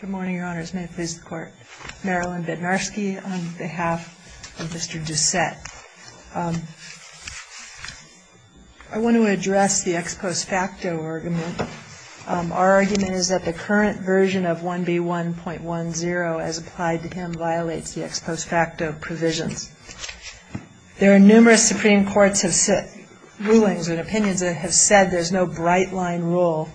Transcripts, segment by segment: Good morning, Your Honors. May it please the Court. Marilyn Bednarski on behalf of Mr. Doucette. I want to address the ex post facto argument. Our argument is that the current version of 1B1.10 as applied to him violates the ex post facto provisions. There are numerous Supreme Courts rulings and opinions that have said there's no bright line rule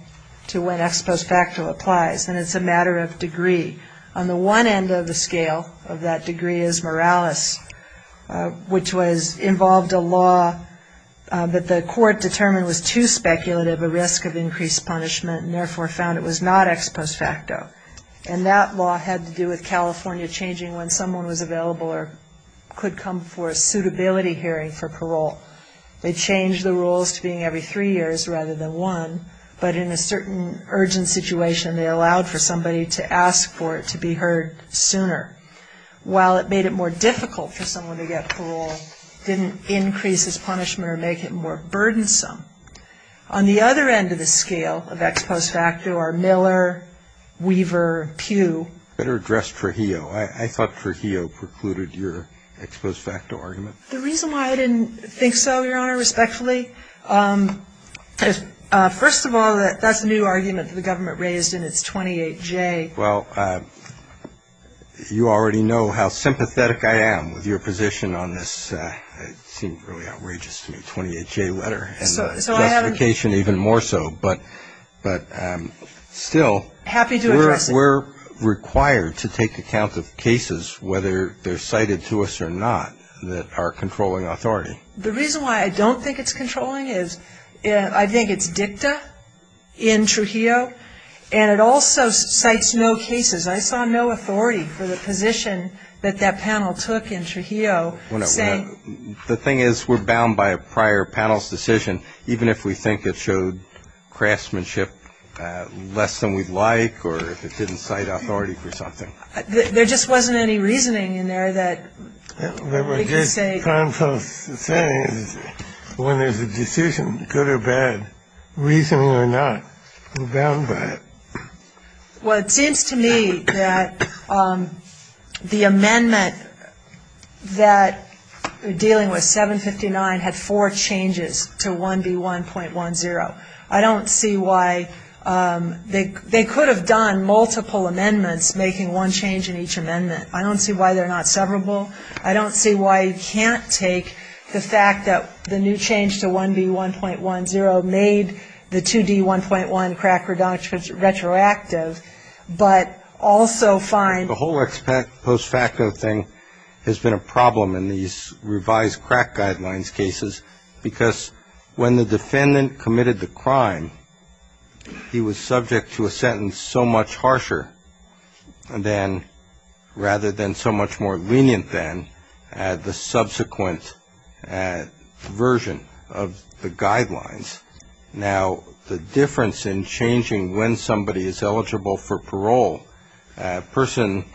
to when ex post facto applies and it's a matter of degree. On the one end of the scale of that degree is Morales, which involved a law that the Court determined was too speculative a risk of increased punishment and therefore found it was not ex post facto. And that law had to do with California changing when someone was available or could come for a suitability hearing for parole. They changed the rules to being every three years rather than one, but in a certain urgent situation they allowed for somebody to ask for it to be heard sooner. While it made it more difficult for someone to get parole, it didn't increase his punishment or make it more burdensome. On the other end of the scale of ex post facto are Miller, Weaver, Pugh. Better addressed Trujillo. I thought Trujillo precluded your ex post facto argument. The reason why I didn't think so, Your Honor, respectfully, first of all, that's a new argument that the government raised and it's 28J. Well, you already know how sympathetic I am with your position on this. It seemed really outrageous to me, 28J letter. So I haven't. Justification even more so, but still. Happy to address it. We're required to take account of cases whether they're cited to us or not that are controlling authority. The reason why I don't think it's controlling is I think it's dicta in Trujillo and it also cites no cases. I saw no authority for the position that that panel took in Trujillo saying. The thing is, we're bound by a prior panel's decision, even if we think it showed craftsmanship less than we'd like or if it didn't cite authority for something. There just wasn't any reasoning in there that we can say. What we're just trying to say is when there's a decision, good or bad, reasoning or not, we're bound by it. Well, it seems to me that the amendment that dealing with 759 had four changes to 1B1.10. I don't see why they could have done multiple amendments making one change in each amendment. I don't see why they're not severable. I don't see why you can't take the fact that the new change to 1B1.10 made the 2D1.1 crack retroactive, but also find. The whole post facto thing has been a problem in these revised crack guidelines cases because when the defendant committed the crime, he was subject to a sentence so much harsher than, rather than so much more lenient than the subsequent version of the guidelines. Now, the difference in changing when somebody is eligible for parole, a person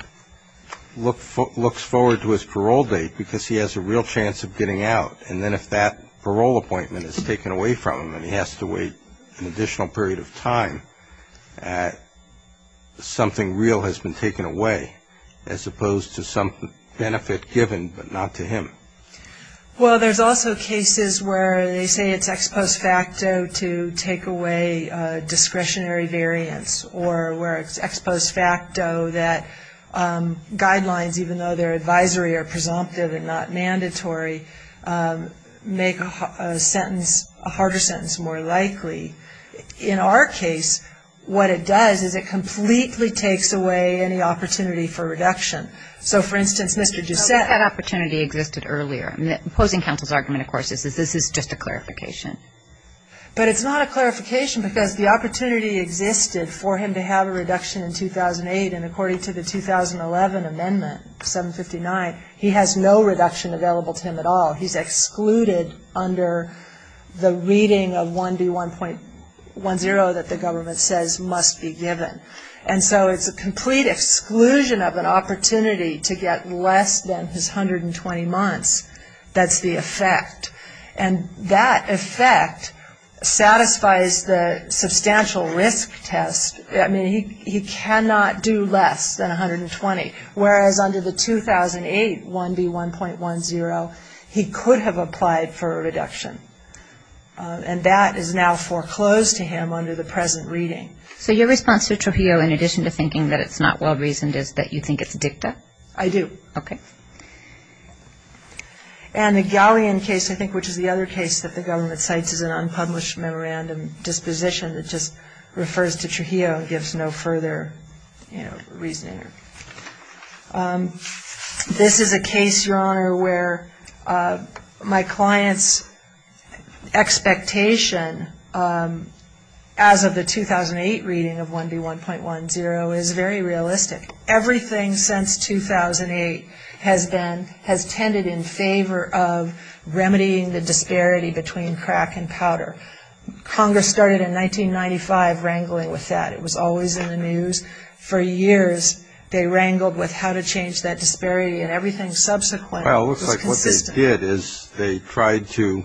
looks forward to his parole date because he has a real chance of getting out, and then if that parole appointment is taken away from him and he has to wait an additional period of time, something real has been taken away as opposed to some benefit given, but not to him. Well, there's also cases where they say it's ex post facto to take away discretionary variance, or where it's ex post facto that guidelines, even though their advisory are presumptive and not mandatory, make a sentence, a harder sentence more likely. In our case, what it does is it completely takes away any opportunity for reduction. So, for instance, Mr. Giussette. That opportunity existed earlier. Opposing counsel's argument, of course, is this is just a clarification. But it's not a clarification because the opportunity existed for him to have a reduction in 2008, and according to the 2011 amendment, 759, he has no reduction available to him at all. He's excluded under the reading of 1D1.10 that the government says must be given. And so it's a complete exclusion of an opportunity to get less than his 120 months. That's the effect. And that effect satisfies the substantial risk test. I mean, he cannot do less than 120, whereas under the 2008 1D1.10, he could have applied for a reduction. And that is now foreclosed to him under the present reading. So your response to Trujillo, in addition to thinking that it's not well-reasoned, is that you think it's dicta? I do. Okay. And the Galleon case, I think, which is the other case that the government cites as an unpublished memorandum disposition that just refers to Trujillo and gives no further, you know, reasoning. This is a case, Your Honor, where my client's expectation as of the 2008 reading of 1D1.10 is very realistic. Everything since 2008 has been, has tended in favor of remedying the disparity between crack and powder. Congress started in 1995 wrangling with that. It was always in the news. For years, they wrangled with how to change that disparity, and everything subsequent was consistent. What they did is they tried to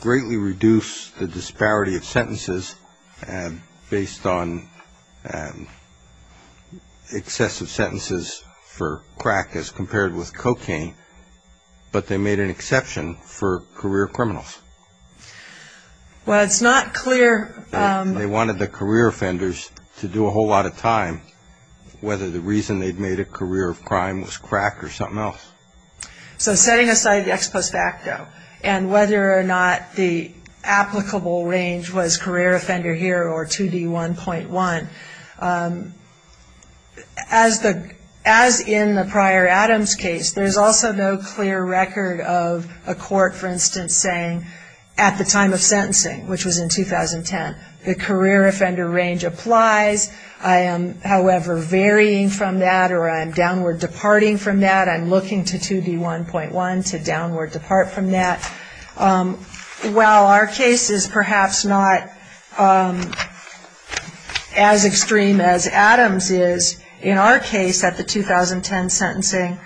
greatly reduce the disparity of sentences based on excessive sentences for crack as compared with cocaine, but they made an exception for career criminals. Well, it's not clear. They wanted the career offenders to do a whole lot of time, whether the reason they'd made a career of crime was crack or something else. So setting aside the ex post facto and whether or not the applicable range was career offender here or 2D1.1, as in the prior Adams case, there's also no clear record of a court, for instance, saying at the time of sentencing, which was in 2010, the career offender range applies. I am, however, varying from that or I'm downward departing from that. I'm looking to 2D1.1 to downward depart from that. While our case is perhaps not as extreme as Adams is, in our case at the 2010 sentencing,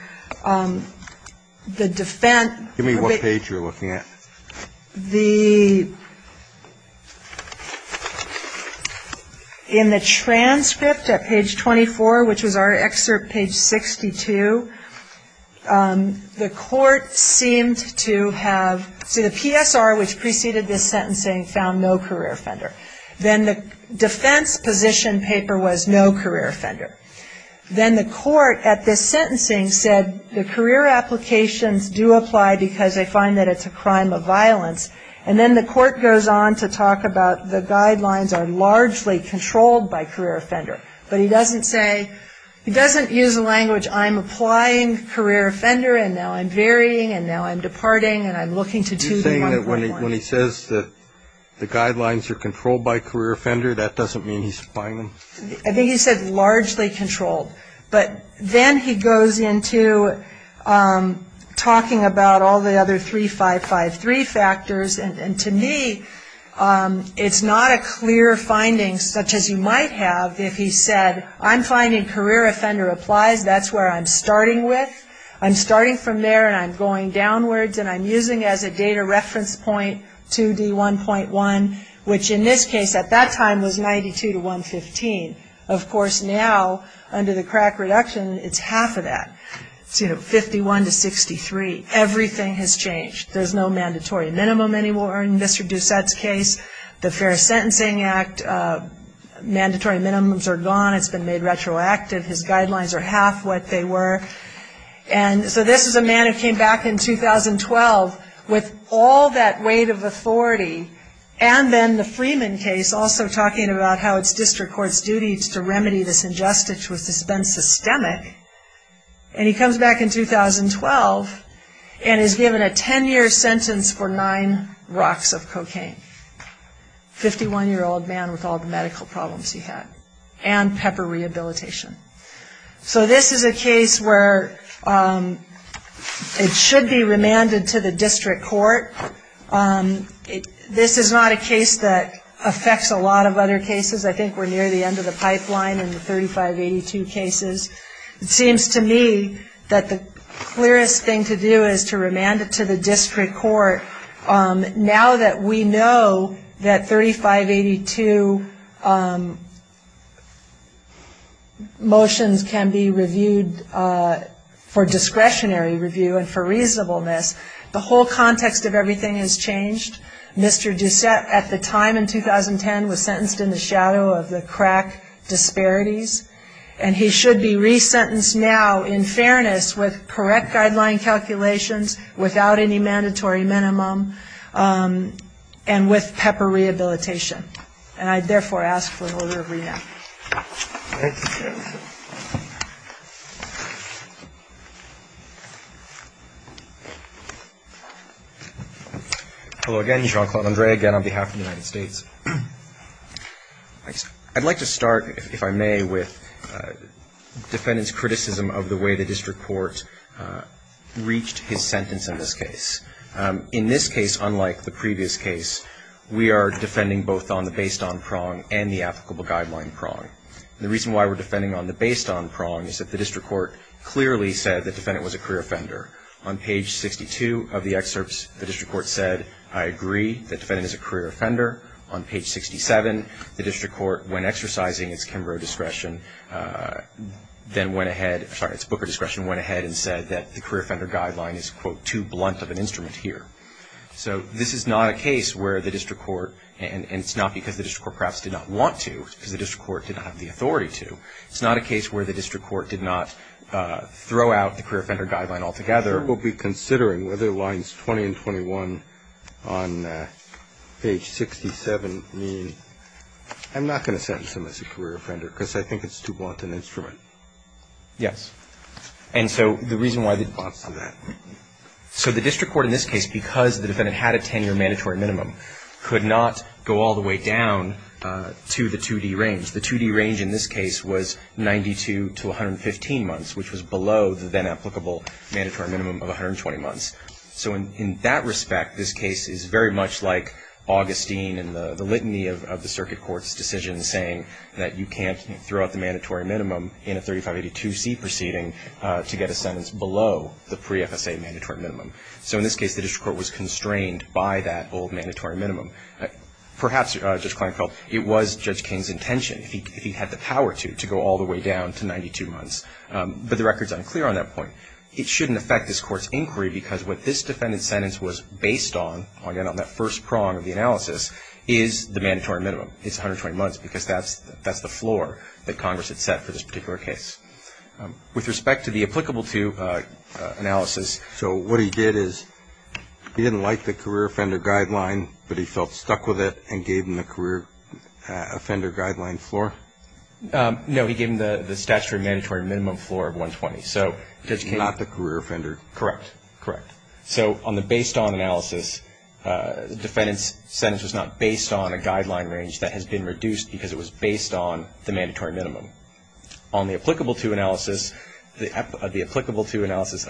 the defense of it ---- Give me what page you're looking at. The ---- In the transcript at page 24, which was our excerpt page 62, the court seemed to have ---- So the PSR, which preceded this sentencing, found no career offender. Then the defense position paper was no career offender. Then the court at this sentencing said the career applications do apply because they find that it's a crime of violence. And then the court goes on to talk about the guidelines are largely controlled by career offender. But he doesn't say ---- he doesn't use the language I'm applying career offender and now I'm varying and now I'm departing and I'm looking to 2D1.1. Are you saying that when he says that the guidelines are controlled by career offender, that doesn't mean he's applying them? I think he said largely controlled. But then he goes into talking about all the other 3553 factors, and to me it's not a clear finding such as you might have if he said, I'm finding career offender applies, that's where I'm starting with. I'm starting from there and I'm going downwards and I'm using as a data reference point 2D1.1, which in this case at that time was 92 to 115. Of course, now under the crack reduction, it's half of that, 51 to 63. Everything has changed. There's no mandatory minimum anymore in Mr. Doucette's case. The Fair Sentencing Act, mandatory minimums are gone. It's been made retroactive. His guidelines are half what they were. And so this is a man who came back in 2012 with all that weight of authority and then the Freeman case also talking about how it's district court's duty to remedy this injustice which has been systemic. And he comes back in 2012 and is given a ten-year sentence for nine rocks of cocaine, 51-year-old man with all the medical problems he had, and pepper rehabilitation. So this is a case where it should be remanded to the district court. This is not a case that affects a lot of other cases. I think we're near the end of the pipeline in the 3582 cases. It seems to me that the clearest thing to do is to remand it to the district court. Now that we know that 3582 motions can be reviewed for discretionary review and for reasonableness, the whole context of everything has changed. Mr. Doucette at the time in 2010 was sentenced in the shadow of the crack disparities, and he should be resentenced now in fairness with correct guideline calculations, without any mandatory minimum, and with pepper rehabilitation. Thank you. Hello again. Jean-Claude Andre, again on behalf of the United States. I'd like to start, if I may, with defendants' criticism of the way the district court reached his sentence in this case. In this case, unlike the previous case, we are defending both on the based-on prong and the applicable guideline prong. The reason why we're defending on the based-on prong is that the district court clearly said that the defendant was a career offender. On page 62 of the excerpts, the district court said, I agree that the defendant is a career offender. On page 67, the district court, when exercising its Kimbrough discretion, then went ahead, sorry, its Booker discretion, went ahead and said that the career offender guideline is, quote, too blunt of an instrument here. So this is not a case where the district court, and it's not because the district court perhaps did not want to, because the district court did not have the authority to, it's not a case where the district court did not throw out the career offender guideline altogether. We'll be considering whether lines 20 and 21 on page 67 mean, I'm not going to sentence him as a career offender because I think it's too blunt an instrument. Yes. And so the reason why they'd want some of that. So the district court in this case, because the defendant had a 10-year mandatory minimum, could not go all the way down to the 2D range. The 2D range in this case was 92 to 115 months, which was below the then-applicable mandatory minimum of 120 months. So in that respect, this case is very much like Augustine and the litany of the circuit court's decision saying that you can't throw out the mandatory minimum in a 3582C proceeding to get a sentence below the pre-FSA mandatory minimum. So in this case, the district court was constrained by that old mandatory minimum. Perhaps, Judge Kleinfeld, it was Judge King's intention, if he had the power to, to go all the way down to 92 months. But the record's unclear on that point. It shouldn't affect this court's inquiry because what this defendant's sentence was based on, again, on that first prong of the analysis, is the mandatory minimum. It's 120 months because that's the floor that Congress had set for this particular case. With respect to the applicable-to analysis. So what he did is he didn't like the career offender guideline, but he felt stuck with it and gave him the career offender guideline floor? No, he gave him the statutory mandatory minimum floor of 120. Not the career offender. Correct, correct. So on the based-on analysis, the defendant's sentence was not based on a guideline range that has been reduced because it was based on the mandatory minimum. On the applicable-to analysis, the applicable-to analysis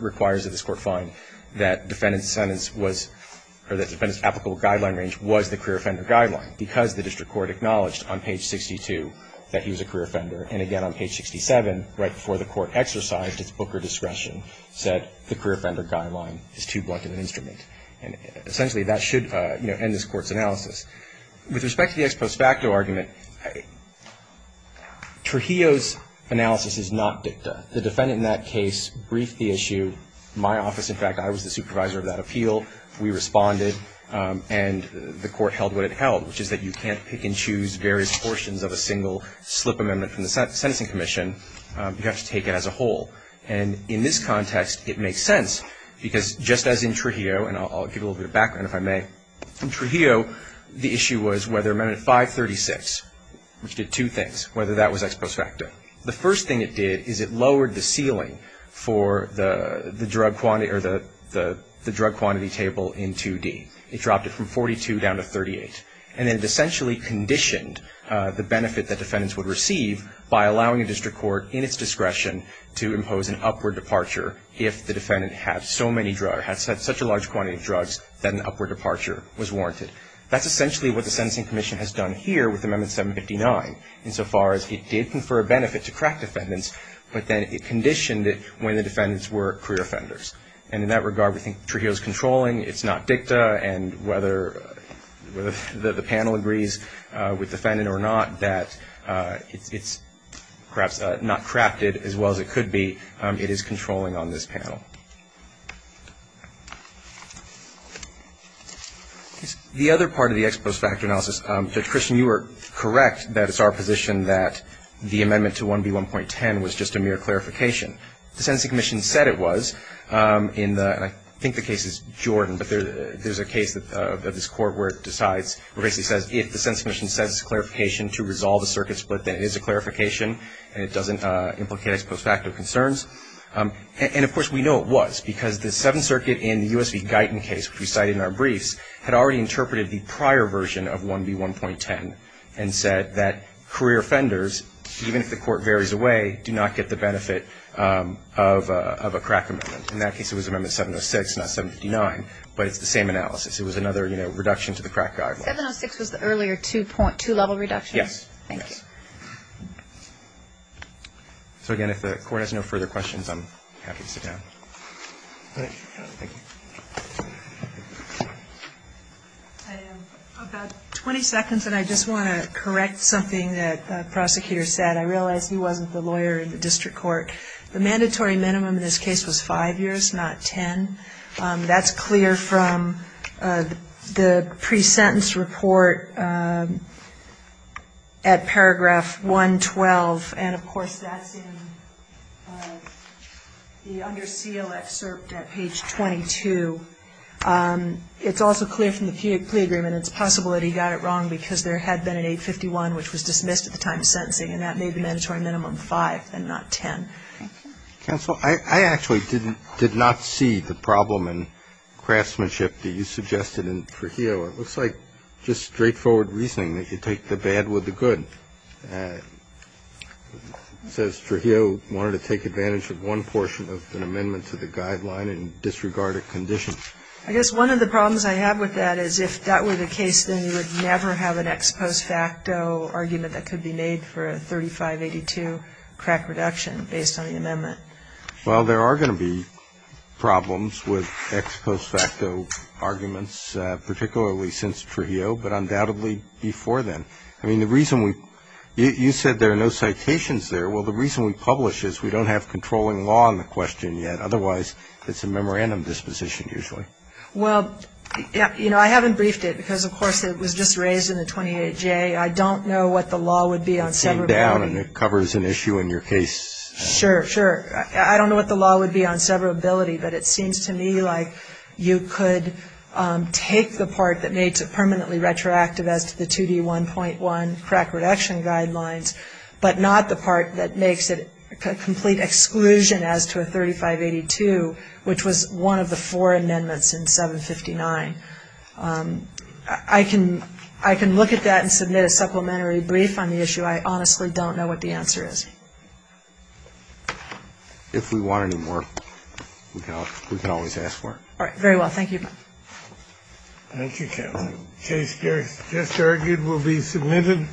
requires that this court find that defendant's sentence was, or that defendant's applicable guideline range was the career offender guideline because the district court acknowledged on page 62 that he was a career offender. And, again, on page 67, right before the court exercised its Booker discretion, said the career offender guideline is too blunt of an instrument. And, essentially, that should end this Court's analysis. With respect to the ex post facto argument, Trujillo's analysis is not dicta. The defendant in that case briefed the issue. My office, in fact, I was the supervisor of that appeal. We responded. And the Court held what it held, which is that you can't pick and choose various portions of a single slip amendment from the Sentencing Commission. You have to take it as a whole. And in this context, it makes sense because, just as in Trujillo, and I'll give a little bit of background if I may, in Trujillo, the issue was whether Amendment 536, which did two things, whether that was ex post facto. The first thing it did is it lowered the ceiling for the drug quantity table in 2D. It dropped it from 42 down to 38. And it essentially conditioned the benefit that defendants would receive by allowing a district court, in its discretion, to impose an upward departure if the defendant had so many drugs, had such a large quantity of drugs, that an upward departure was warranted. That's essentially what the Sentencing Commission has done here with Amendment 759, insofar as it did confer a benefit to crack defendants, but then it conditioned it when the defendants were career offenders. And in that regard, we think Trujillo's controlling. It's not dicta. And whether the panel agrees with the defendant or not, that it's perhaps not crafted as well as it could be, it is controlling on this panel. The other part of the ex post facto analysis, Judge Christian, you were correct that it's our position that the amendment to 1B1.10 was just a mere clarification. The Sentencing Commission said it was, and I think the case is Jordan, but there's a case of this court where it decides, where it basically says if the Sentencing Commission says it's a clarification to resolve a circuit split, then it is a clarification and it doesn't implicate ex post facto concerns. And, of course, we know it was because the Seventh Circuit in the U.S. v. Guyton case, which we cited in our briefs, had already interpreted the prior version of 1B1.10 and said that career offenders, even if the court varies away, do not get the benefit of a crack amendment. In that case, it was amendment 706, not 759, but it's the same analysis. It was another, you know, reduction to the crack guideline. 706 was the earlier two-level reduction? Yes. Thank you. So, again, if the Court has no further questions, I'm happy to sit down. About 20 seconds, and I just want to correct something that the prosecutor said. I realize he wasn't the lawyer in the district court. The mandatory minimum in this case was five years, not ten. That's clear from the pre-sentence report at paragraph 112, and, of course, that's in the under seal excerpt at page 22. It's also clear from the plea agreement. It's possible that he got it wrong because there had been an 851, which was dismissed at the time of sentencing, and that made the mandatory minimum five and not ten. Thank you. Counsel, I actually did not see the problem in craftsmanship that you suggested in Trujillo. It looks like just straightforward reasoning that you take the bad with the good. It says Trujillo wanted to take advantage of one portion of an amendment to the guideline in disregarded condition. I guess one of the problems I have with that is if that were the case, then you would never have an ex post facto argument that could be made for a 3582 crack reduction based on the amendment. Well, there are going to be problems with ex post facto arguments, particularly since Trujillo, but undoubtedly before then. I mean, the reason we you said there are no citations there. Well, the reason we publish is we don't have controlling law on the question yet. Otherwise, it's a memorandum disposition usually. Well, you know, I haven't briefed it because, of course, it was just raised in the 28-J. I don't know what the law would be on severability. It came down, and it covers an issue in your case. Sure, sure. I don't know what the law would be on severability, but it seems to me like you could take the part that made it permanently retroactive as to the 2D1.1 crack reduction guidelines, but not the part that makes it a complete exclusion as to a 3582, which was one of the four amendments in 759. I can look at that and submit a supplementary brief on the issue. I honestly don't know what the answer is. If we want any more, we can always ask for it. All right. Very well. Thank you. Thank you, counsel. The case just argued will be submitted.